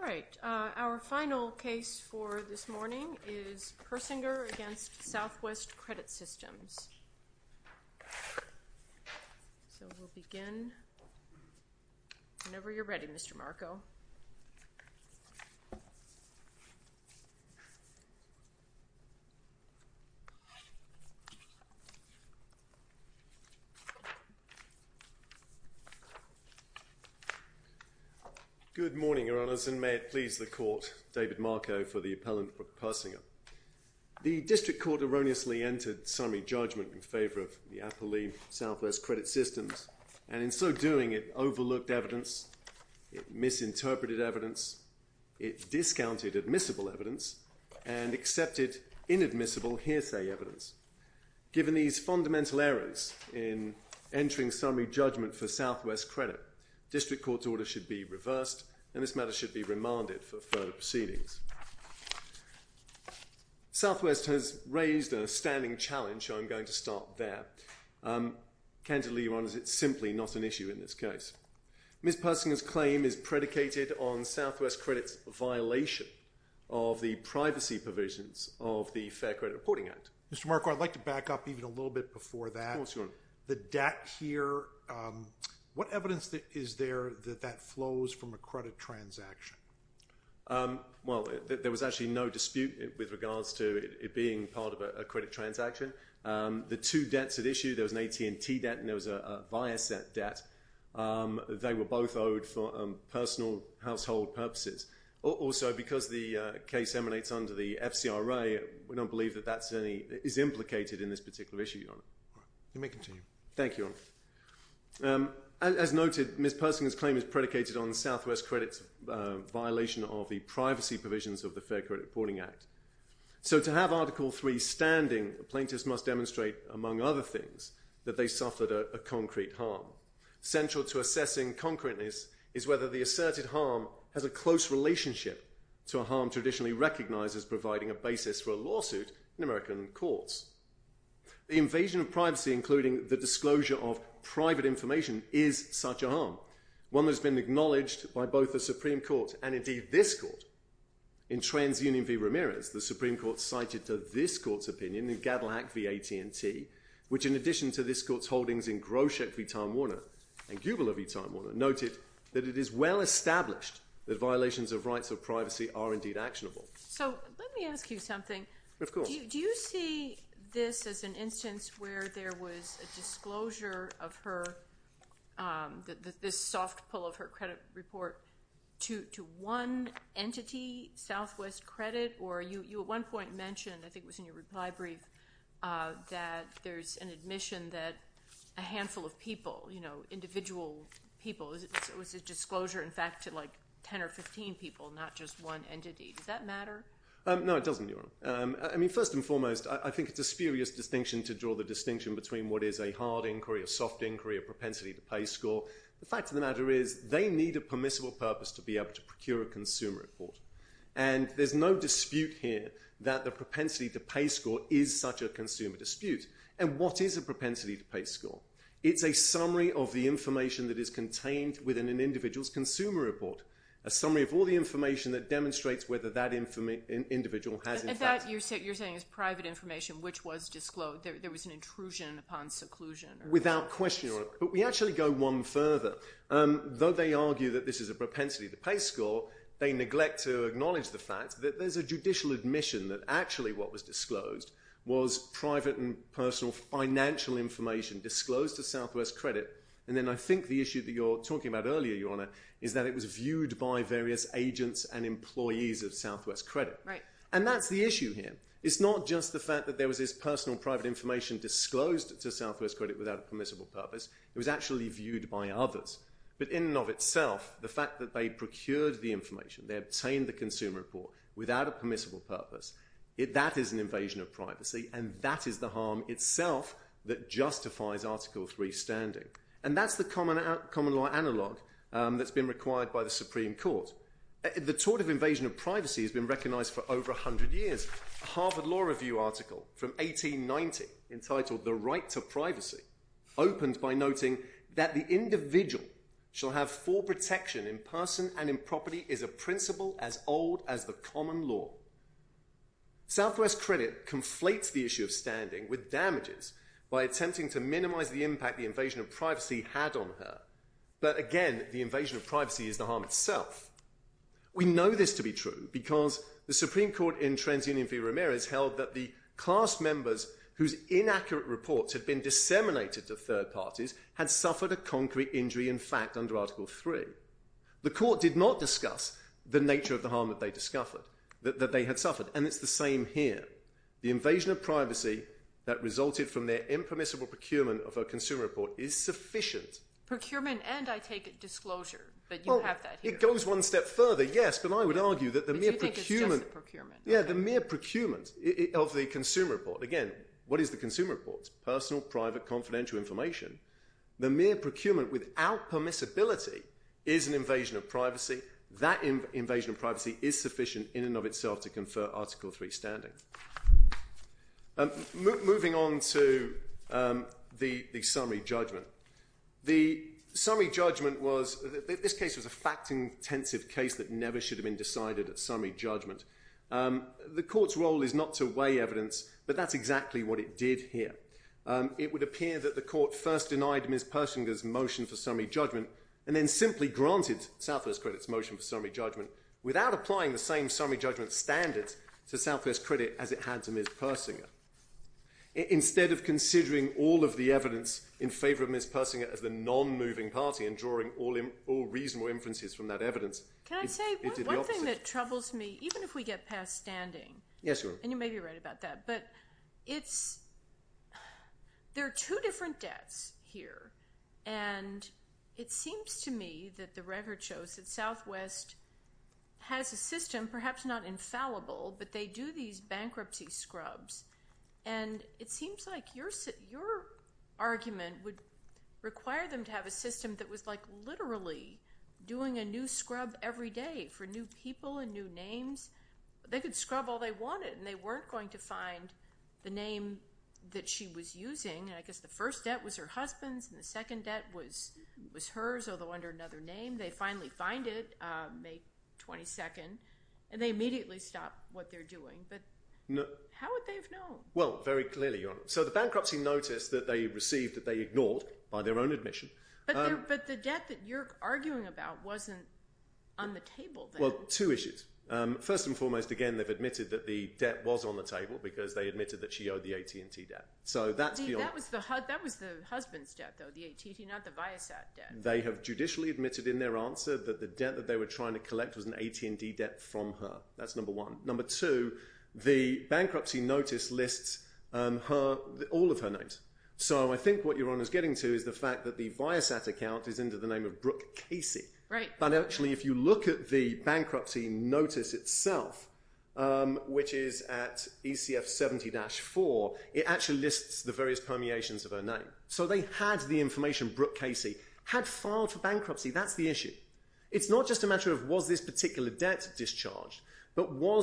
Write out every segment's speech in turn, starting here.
All right. Our final case for this morning is Persinger v. Southwest Credit Systems. So we'll begin whenever you're ready, Mr. Marko. Good morning, Your Honors, and may it please the Court, David Marko for the appellant for Persinger. The District Court erroneously entered summary judgment in favor of the Appellee, Southwest Credit Systems, and in so doing it overlooked evidence, it misinterpreted evidence, it discounted admissible evidence, and accepted inadmissible hearsay evidence. Given these fundamental errors in entering summary judgment for Southwest Credit, District Court's order should be reversed, and this matter should be remanded for further proceedings. Southwest has raised a standing challenge, so I'm going to start there. Candidly, Your Honors, it's simply not an issue in this case. Ms. Persinger's claim is predicated on Southwest Credit's violation of the privacy provisions of the Fair Credit Reporting Act. Mr. Marko, I'd like to back up even a little bit before that. Of course, Your Honor. The debt here, what evidence is there that that flows from a credit transaction? Well, there was actually no dispute with regards to it being part of a credit transaction. The two debts at issue, there was an AT&T debt and there was a Viasat debt. They were both owed for personal household purposes. Also, because the case emanates under the FCRA, we don't believe that that is implicated in this particular issue, Your Honor. You may continue. Thank you, Your Honor. As noted, Ms. Persinger's claim is predicated on Southwest Credit's violation of the privacy provisions of the Fair Credit Reporting Act. So to have Article III standing, the plaintiffs must demonstrate, among other things, that they suffered a concrete harm. Central to assessing concreteness is whether the asserted harm has a close relationship to a harm traditionally recognized as providing a basis for a lawsuit in American courts. The invasion of privacy, including the disclosure of private information, is such a harm. One that has been acknowledged by both the Supreme Court, and indeed this court, in TransUnion v. Ramirez, the Supreme Court cited to this court's opinion, in Gadelhack v. AT&T, which in addition to this court's holdings in Groshek v. Tom Warner and Gubler v. Tom Warner, noted that it is well established that violations of rights of privacy are indeed actionable. So let me ask you something. Of course. Do you see this as an instance where there was a disclosure of her, this soft pull of her credit report, to one entity, Southwest Credit? Or you at one point mentioned, I think it was in your reply brief, that there's an admission that a handful of people, you know, individual people, it was a disclosure, in fact, to like 10 or 15 people, not just one entity. Does that matter? No, it doesn't, Your Honor. I mean, first and foremost, I think it's a spurious distinction to draw the distinction between what is a hard inquiry, a soft inquiry, a propensity to pay score. The fact of the matter is, they need a permissible purpose to be able to procure a consumer report. And there's no dispute here that the propensity to pay score is such a consumer dispute. And what is a propensity to pay score? It's a summary of the information that is contained within an individual's consumer report. A summary of all the information that demonstrates whether that individual has, in fact... And that, you're saying, is private information, which was disclosed. There was an intrusion upon seclusion. Without question, Your Honor. But we actually go one further. Though they argue that this is a propensity to pay score, they neglect to acknowledge the fact that there's a judicial admission that actually what was disclosed was private and personal financial information disclosed to Southwest Credit. And then I think the issue that you're talking about earlier, Your Honor, is that it was viewed by various agents and employees of Southwest Credit. And that's the issue here. It's not just the fact that there was this personal private information disclosed to them. It was actually viewed by others. But in and of itself, the fact that they procured the information, they obtained the consumer report without a permissible purpose, that is an invasion of privacy, and that is the harm itself that justifies Article 3 standing. And that's the common law analog that's been required by the Supreme Court. The tort of invasion of privacy has been recognized for over 100 years. A Harvard Law Review article from 1890 entitled The Right to Privacy opened by noting that the individual shall have full protection in person and in property is a principle as old as the common law. Southwest Credit conflates the issue of standing with damages by attempting to minimize the impact the invasion of privacy had on her. But again, the invasion of privacy is the harm itself. We know this to be true because the Supreme Court in TransUnion v. Ramirez held that the class members whose inaccurate reports had been disseminated to third parties had suffered a concrete injury in fact under Article 3. The court did not discuss the nature of the harm that they discovered, that they had suffered. And it's the same here. The invasion of privacy that resulted from their impermissible procurement of a consumer report is sufficient. Procurement and I take it disclosure, but you have that here. It goes one step further, yes. But I would argue that the mere procurement of the consumer report. Again, what is the consumer report? Personal, private, confidential information. The mere procurement without permissibility is an invasion of privacy. That invasion of privacy is sufficient in and of itself to confer Article 3 standing. Moving on to the summary judgment. The summary judgment was, this case was a fact-intensive case that never should have been decided at summary judgment. The court's role is not to weigh evidence, but that's exactly what it did here. It would appear that the court first denied Ms. Persinger's motion for summary judgment and then simply granted Southwest Credit's motion for summary judgment without applying the same summary judgment standards to Southwest Credit as it had to Ms. Persinger. Instead of considering all of the evidence in favor of Ms. Persinger as the non-moving party and drawing all reasonable inferences from that evidence, it did the opposite. Can I say one thing that troubles me, even if we get past standing, and you may be right about that, but it's, there are two different debts here and it seems to me that the record list has a system, perhaps not infallible, but they do these bankruptcy scrubs and it seems like your argument would require them to have a system that was like literally doing a new scrub every day for new people and new names. They could scrub all they wanted and they weren't going to find the name that she was using. I guess the first debt was her husband's and the second debt was hers, although under another name. They finally find it, May 22nd, and they immediately stop what they're doing, but how would they have known? Well, very clearly, Your Honor. So the bankruptcy noticed that they received, that they ignored by their own admission. But the debt that you're arguing about wasn't on the table then. Well, two issues. First and foremost, again, they've admitted that the debt was on the table because they admitted that she owed the AT&T debt. So that's beyond- See, that was the husband's debt though, the AT&T, not the Viasat debt. They have judicially admitted in their answer that the debt that they were trying to collect was an AT&T debt from her. That's number one. Number two, the bankruptcy notice lists all of her names. So I think what Your Honor's getting to is the fact that the Viasat account is into the name of Brooke Casey. Right. But actually, if you look at the bankruptcy notice itself, which is at ECF 70-4, it actually lists the various permeations of her name. So they had the information, Brooke Casey, had filed for bankruptcy. That's the issue. It's not just a matter of was this particular debt discharged, but were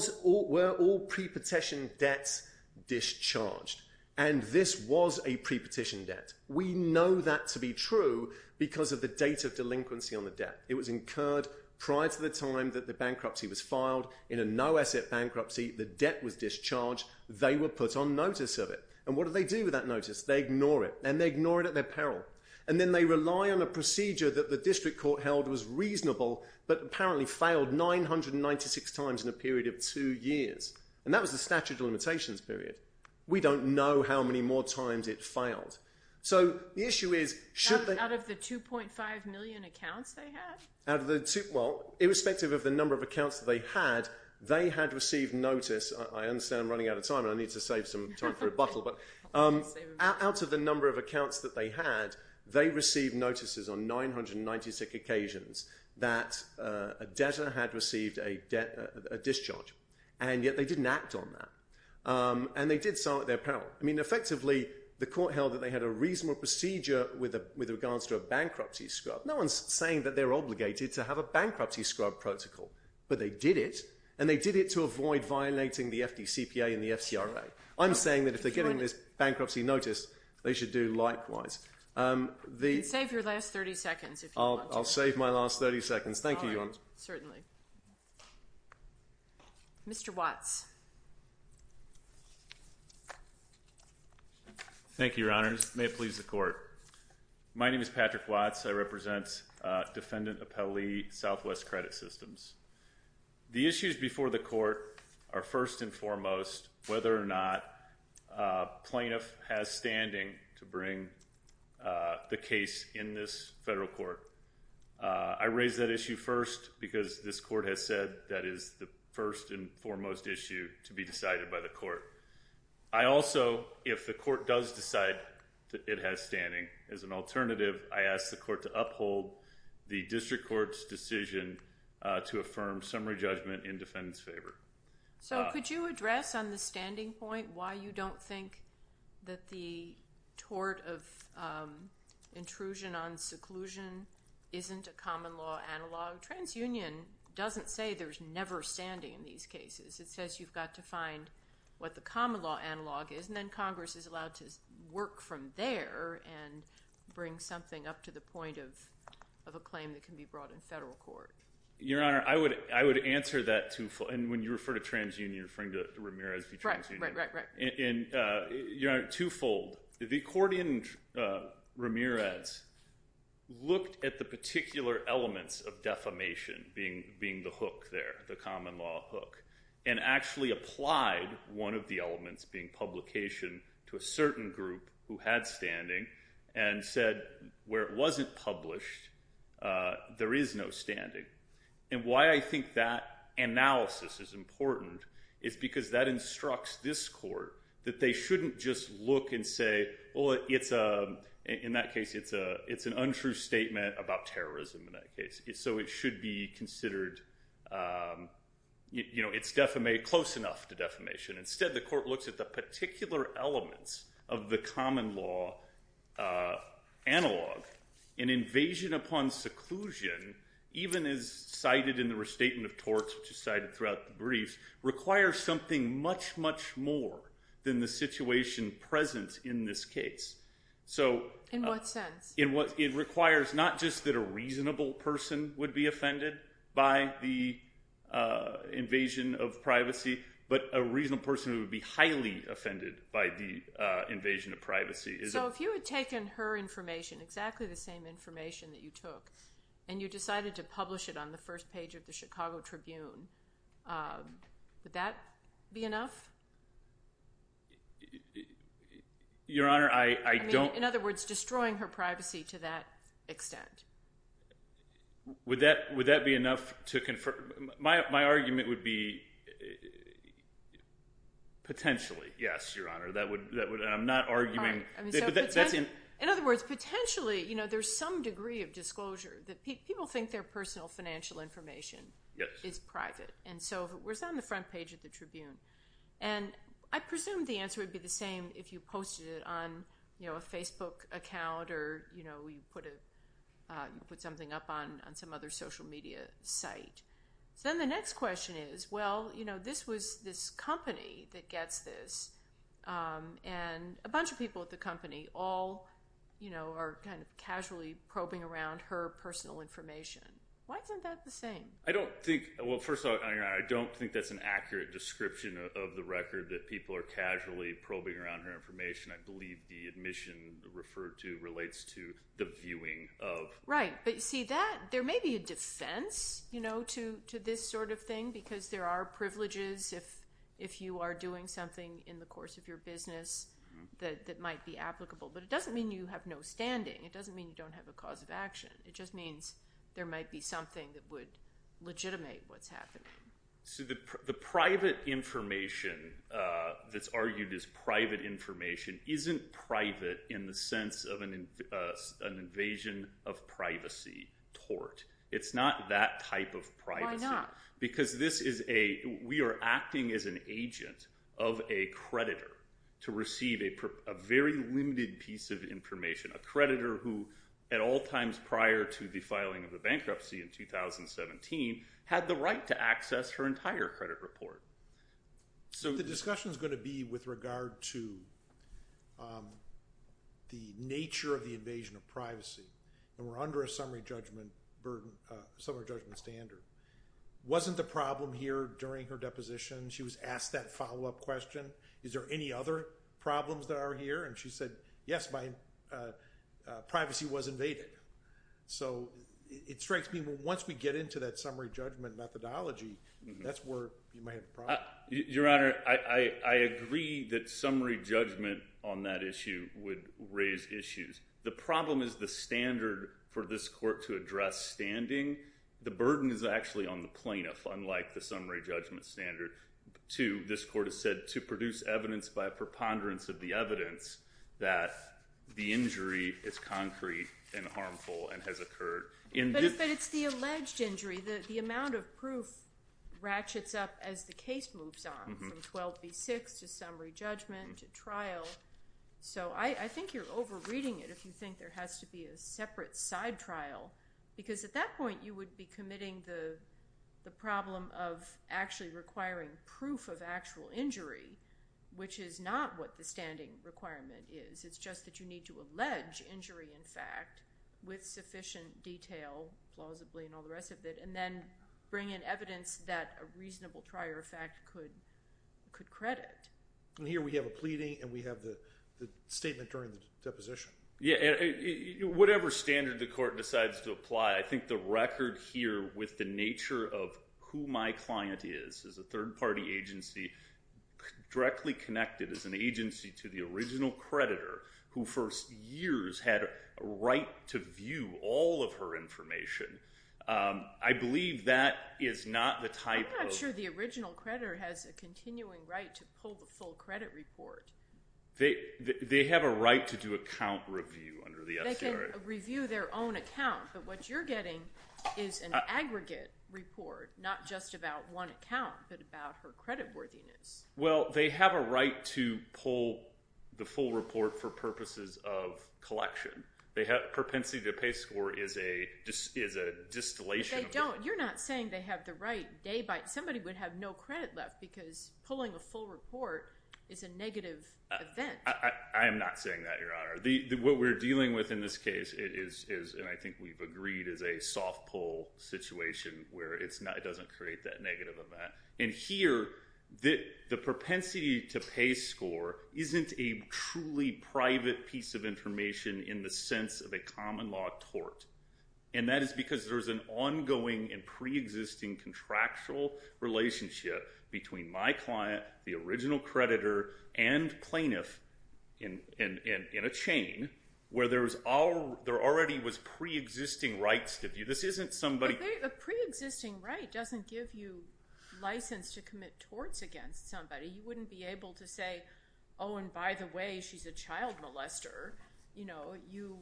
all pre-petition debts discharged? And this was a pre-petition debt. We know that to be true because of the date of delinquency on the debt. It was incurred prior to the time that the bankruptcy was filed. In a no-asset bankruptcy, the debt was discharged. They were put on notice of it. And what did they do with that notice? They ignore it. And they ignore it at their peril. And then they rely on a procedure that the district court held was reasonable, but apparently failed 996 times in a period of two years. And that was the statute of limitations period. We don't know how many more times it failed. So the issue is, should they- Out of the 2.5 million accounts they had? Out of the two, well, irrespective of the number of accounts that they had, they had received notice. I understand I'm running out of time, and I need to save some time for rebuttal. But out of the number of accounts that they had, they received notices on 996 occasions that a debtor had received a discharge. And yet they didn't act on that. And they did so at their peril. I mean, effectively, the court held that they had a reasonable procedure with regards to a bankruptcy scrub. No one's saying that they're obligated to have a bankruptcy scrub protocol. But they did it. And they did it to avoid violating the FDCPA and the FCRA. I'm saying that if they're getting this bankruptcy notice, they should do likewise. You can save your last 30 seconds if you want to. I'll save my last 30 seconds. Thank you, Your Honor. Certainly. Mr. Watts. Thank you, Your Honor. May it please the Court. My name is Patrick Watts. I represent Defendant Appellee Southwest Credit Systems. The issues before the Court are, first and foremost, whether or not a plaintiff has standing to bring the case in this federal court. I raise that issue first because this Court has said that is the first and foremost issue to be decided by the Court. I also, if the Court does decide that it has standing, as an alternative, I ask the Court to uphold the district court's decision to affirm summary judgment in defendant's favor. So, could you address on the standing point why you don't think that the tort of intrusion on seclusion isn't a common law analog? TransUnion doesn't say there's never standing in these cases. It says you've got to find what the common law analog is. And then Congress is allowed to work from there and bring something up to the point of a claim that can be brought in federal court. Your Honor, I would answer that twofold. And when you refer to TransUnion, you're referring to Ramirez v. TransUnion. Right, right, right. Your Honor, twofold. The court in Ramirez looked at the particular elements of defamation being the hook there, the common law hook, and actually applied one of the elements being publication to a certain group who had standing and said where it wasn't published, there is no standing. And why I think that analysis is important is because that instructs this Court that they shouldn't just look and say, well, it's a, in that case, it's an untrue statement about terrorism in that case. So it should be considered, you know, it's close enough to defamation. Instead, the court looks at the particular elements of the common law analog. An invasion upon seclusion, even as cited in the restatement of torts, which is cited throughout the brief, requires something much, much more than the situation present in this case. In what sense? It requires not just that a reasonable person would be offended by the invasion of privacy, but a reasonable person would be highly offended by the invasion of privacy. So if you had taken her information, exactly the same information that you took, and you decided to publish it on the first page of the Chicago Tribune, would that be enough? Your Honor, I don't... In other words, destroying her privacy to that extent. Would that be enough to confirm... My argument would be potentially, yes, Your Honor. That would... I'm not arguing... In other words, potentially, you know, there's some degree of disclosure. People think their personal financial information is private. And so it was on the front page of the Tribune. And I presume the answer would be the same if you posted it on, you know, a Facebook account, or, you know, you put something up on some other social media site. So then the next question is, well, you know, this was this company that gets this. And a bunch of people at the company all, you know, are kind of casually probing around her personal information. Why isn't that the same? I don't think... Well, first of all, Your Honor, I don't think that's an accurate description of the record that people are casually probing around her information. I believe the admission referred to relates to the viewing of... Right. But see, that... There may be a defense, you know, to this sort of thing, because there are privileges if you are doing something in the course of your business that might be applicable. But it doesn't mean you have no standing. It doesn't mean you don't have a cause of action. It just means there might be something that would legitimate what's happening. So the private information that's argued as private information isn't private in the sense of an invasion of privacy tort. It's not that type of privacy. Why not? Because this is a... We are acting as an agent of a creditor to receive a very limited piece of information. A creditor who, at all times prior to the filing of the bankruptcy in 2017, had the right to access her entire credit report. So the discussion is going to be with regard to the nature of the invasion of privacy. And we're under a summary judgment standard. Wasn't the problem here during her deposition, she was asked that follow-up question, is there any other problems that are here? And she said, yes, my privacy was invaded. So it strikes me that once we get into that summary judgment methodology, that's where you might have a problem. Your Honor, I agree that summary judgment on that issue would raise issues. The problem is the standard for this court to address standing. The burden is actually on the plaintiff, unlike the summary judgment standard. This court has said to produce evidence by a preponderance of the evidence that the injury is concrete and harmful and has occurred. But it's the alleged injury. The amount of proof ratchets up as the case moves on, from 12b-6 to summary judgment to trial. So I think you're over-reading it if you think there has to be a separate side trial. Because at that point, you would be committing the problem of actually requiring proof of actual injury, which is not what the standing requirement is. It's just that you need to allege injury in fact, with sufficient detail, plausibly and all the rest of it, and then bring in evidence that a reasonable prior fact could credit. And here we have a pleading and we have the statement during the deposition. Yeah, whatever standard the court decides to apply, I think the record here with the nature of who my client is, is a third party agency directly connected as an agency to the original creditor, who for years had a right to view all of her information. I believe that is not the type of... I'm not sure the original creditor has a continuing right to pull the full credit report. They have a right to do account review under the FCRA. They can review their own account. But what you're getting is an aggregate report, not just about one account, but about her credit worthiness. Well, they have a right to pull the full report for purposes of collection. Perpensity to pay score is a distillation. You're not saying they have the right. Somebody would have no credit left because pulling a full report is a negative event. I am not saying that, Your Honor. What we're dealing with in this case is, and I think we've agreed, is a soft pull situation where it doesn't create that negative event. And here, the propensity to pay score isn't a truly private piece of information in the sense of a common law tort. And that is because there's an ongoing and pre-existing contractual relationship between my client, the original creditor, and plaintiff in a chain where there already was pre-existing rights. This isn't somebody... A pre-existing right doesn't give you license to commit torts against somebody. You wouldn't be able to say, oh, and by the way, she's a child molester. You know, you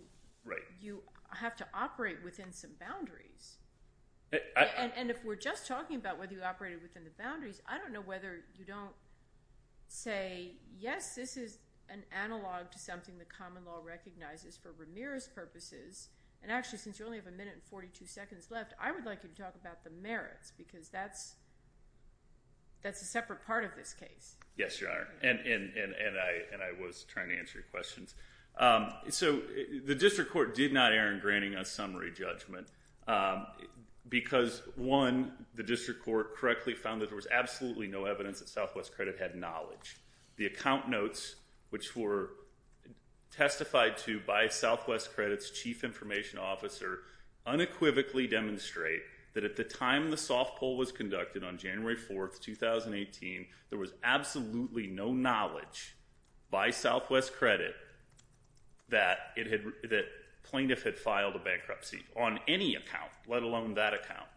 have to operate within some boundaries. And if we're just talking about whether you operated within the boundaries, I don't know whether you don't say, yes, this is an analog to something the common law recognizes for Ramirez's purposes. And actually, since you only have a minute and 42 seconds left, I would like you to talk about the merits, because that's a separate part of this case. Yes, Your Honor. And I was trying to answer your questions. So the district court did not err in granting a summary judgment. Because, one, the district court correctly found that there was absolutely no evidence that Southwest Credit had knowledge. The account notes, which were testified to by Southwest Credit's chief information officer, unequivocally demonstrate that at the time the soft poll was conducted on January 4th, 2018, there was absolutely no knowledge by Southwest Credit that plaintiff had filed a bankruptcy. On any account, let alone that account.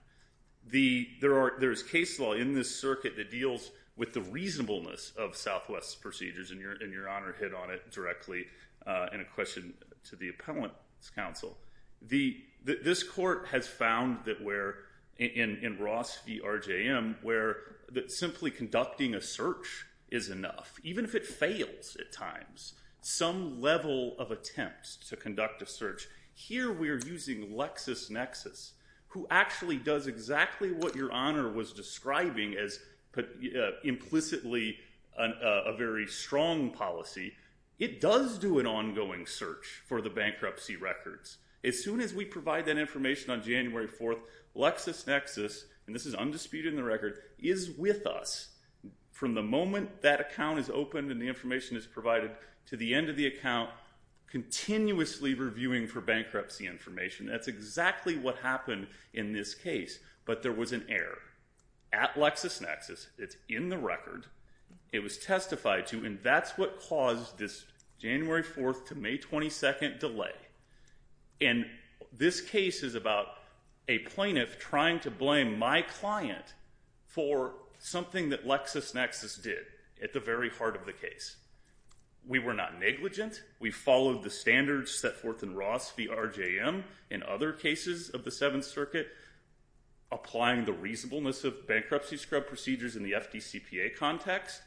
There is case law in this circuit that deals with the reasonableness of Southwest's procedures, and Your Honor hit on it directly in a question to the appellant's counsel. This court has found that we're, in Ross v. RJM, that simply conducting a search is enough. Even if it fails at times. Some level of attempt to conduct a search. Here we're using LexisNexis, who actually does exactly what Your Honor was describing as implicitly a very strong policy. It does do an ongoing search for the bankruptcy records. As soon as we provide that information on January 4th, LexisNexis, and this is undisputed in the record, is with us. From the moment that account is opened and the information is provided, to the end of the account, continuously reviewing for bankruptcy information. That's exactly what happened in this case, but there was an error. At LexisNexis, it's in the record, it was testified to, and that's what caused this January 4th to May 22nd delay. And this case is about a plaintiff trying to blame my client for something that LexisNexis did at the very heart of the case. We were not negligent. We followed the standards set forth in Ross v. RJM in other cases of the Seventh Circuit. Applying the reasonableness of bankruptcy scrub procedures in the FDCPA context,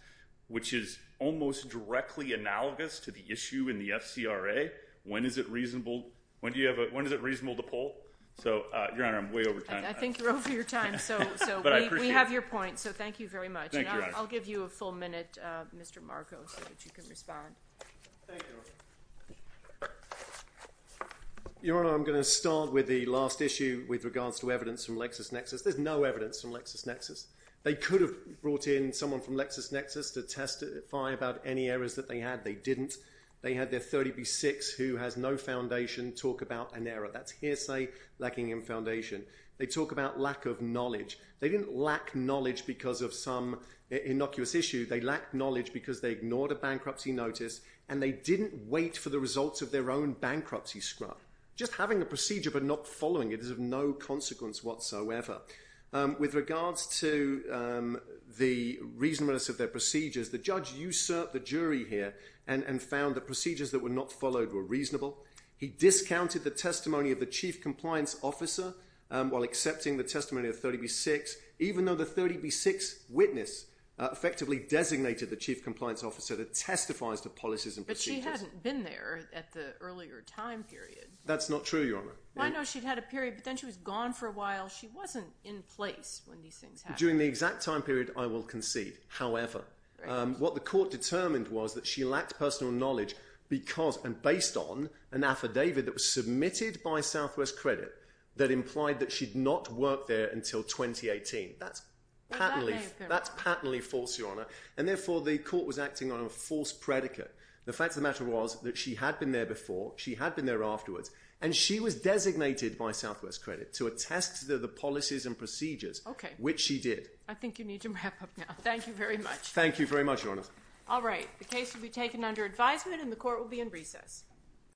which is almost directly analogous to the issue in the FCRA. When is it reasonable to pull? So, Your Honor, I'm way over time. I think you're over your time. We have your point, so thank you very much. I'll give you a full minute, Mr. Marco, so that you can respond. Your Honor, I'm going to start with the last issue with regards to evidence from LexisNexis. There's no evidence from LexisNexis. They could have brought in someone from LexisNexis to testify about any errors that they had. They didn't. They had their 30B6, who has no foundation, talk about an error. That's hearsay lacking in foundation. They talk about lack of knowledge. They didn't lack knowledge because of some innocuous issue. They lack knowledge because they ignored a bankruptcy notice and they didn't wait for the results of their own bankruptcy scrub. Just having a procedure but not following it is of no consequence whatsoever. With regards to the reasonableness of their procedures, the judge usurped the jury here and found the procedures that were not followed were reasonable. He discounted the testimony of the chief compliance officer while accepting the testimony of 30B6 even though the 30B6 witness effectively designated the chief compliance officer that testifies to policies and procedures. But she hadn't been there at the earlier time period. That's not true, Your Honor. I know she'd had a period but then she was gone for a while. She wasn't in place when these things happened. During the exact time period, I will concede. However, what the court determined was that she lacked personal knowledge because and based on an affidavit that was submitted by Southwest Credit that implied that she'd not work there until 2018. That's patently false, Your Honor. Therefore, the court was acting on a false predicate. The fact of the matter was that she had been there before, she had been there afterwards, and she was designated by Southwest Credit to attest to the policies and procedures, which she did. I think you need to wrap up now. Thank you very much. Thank you very much, Your Honor. The case will be taken under advisement and the court will be in recess.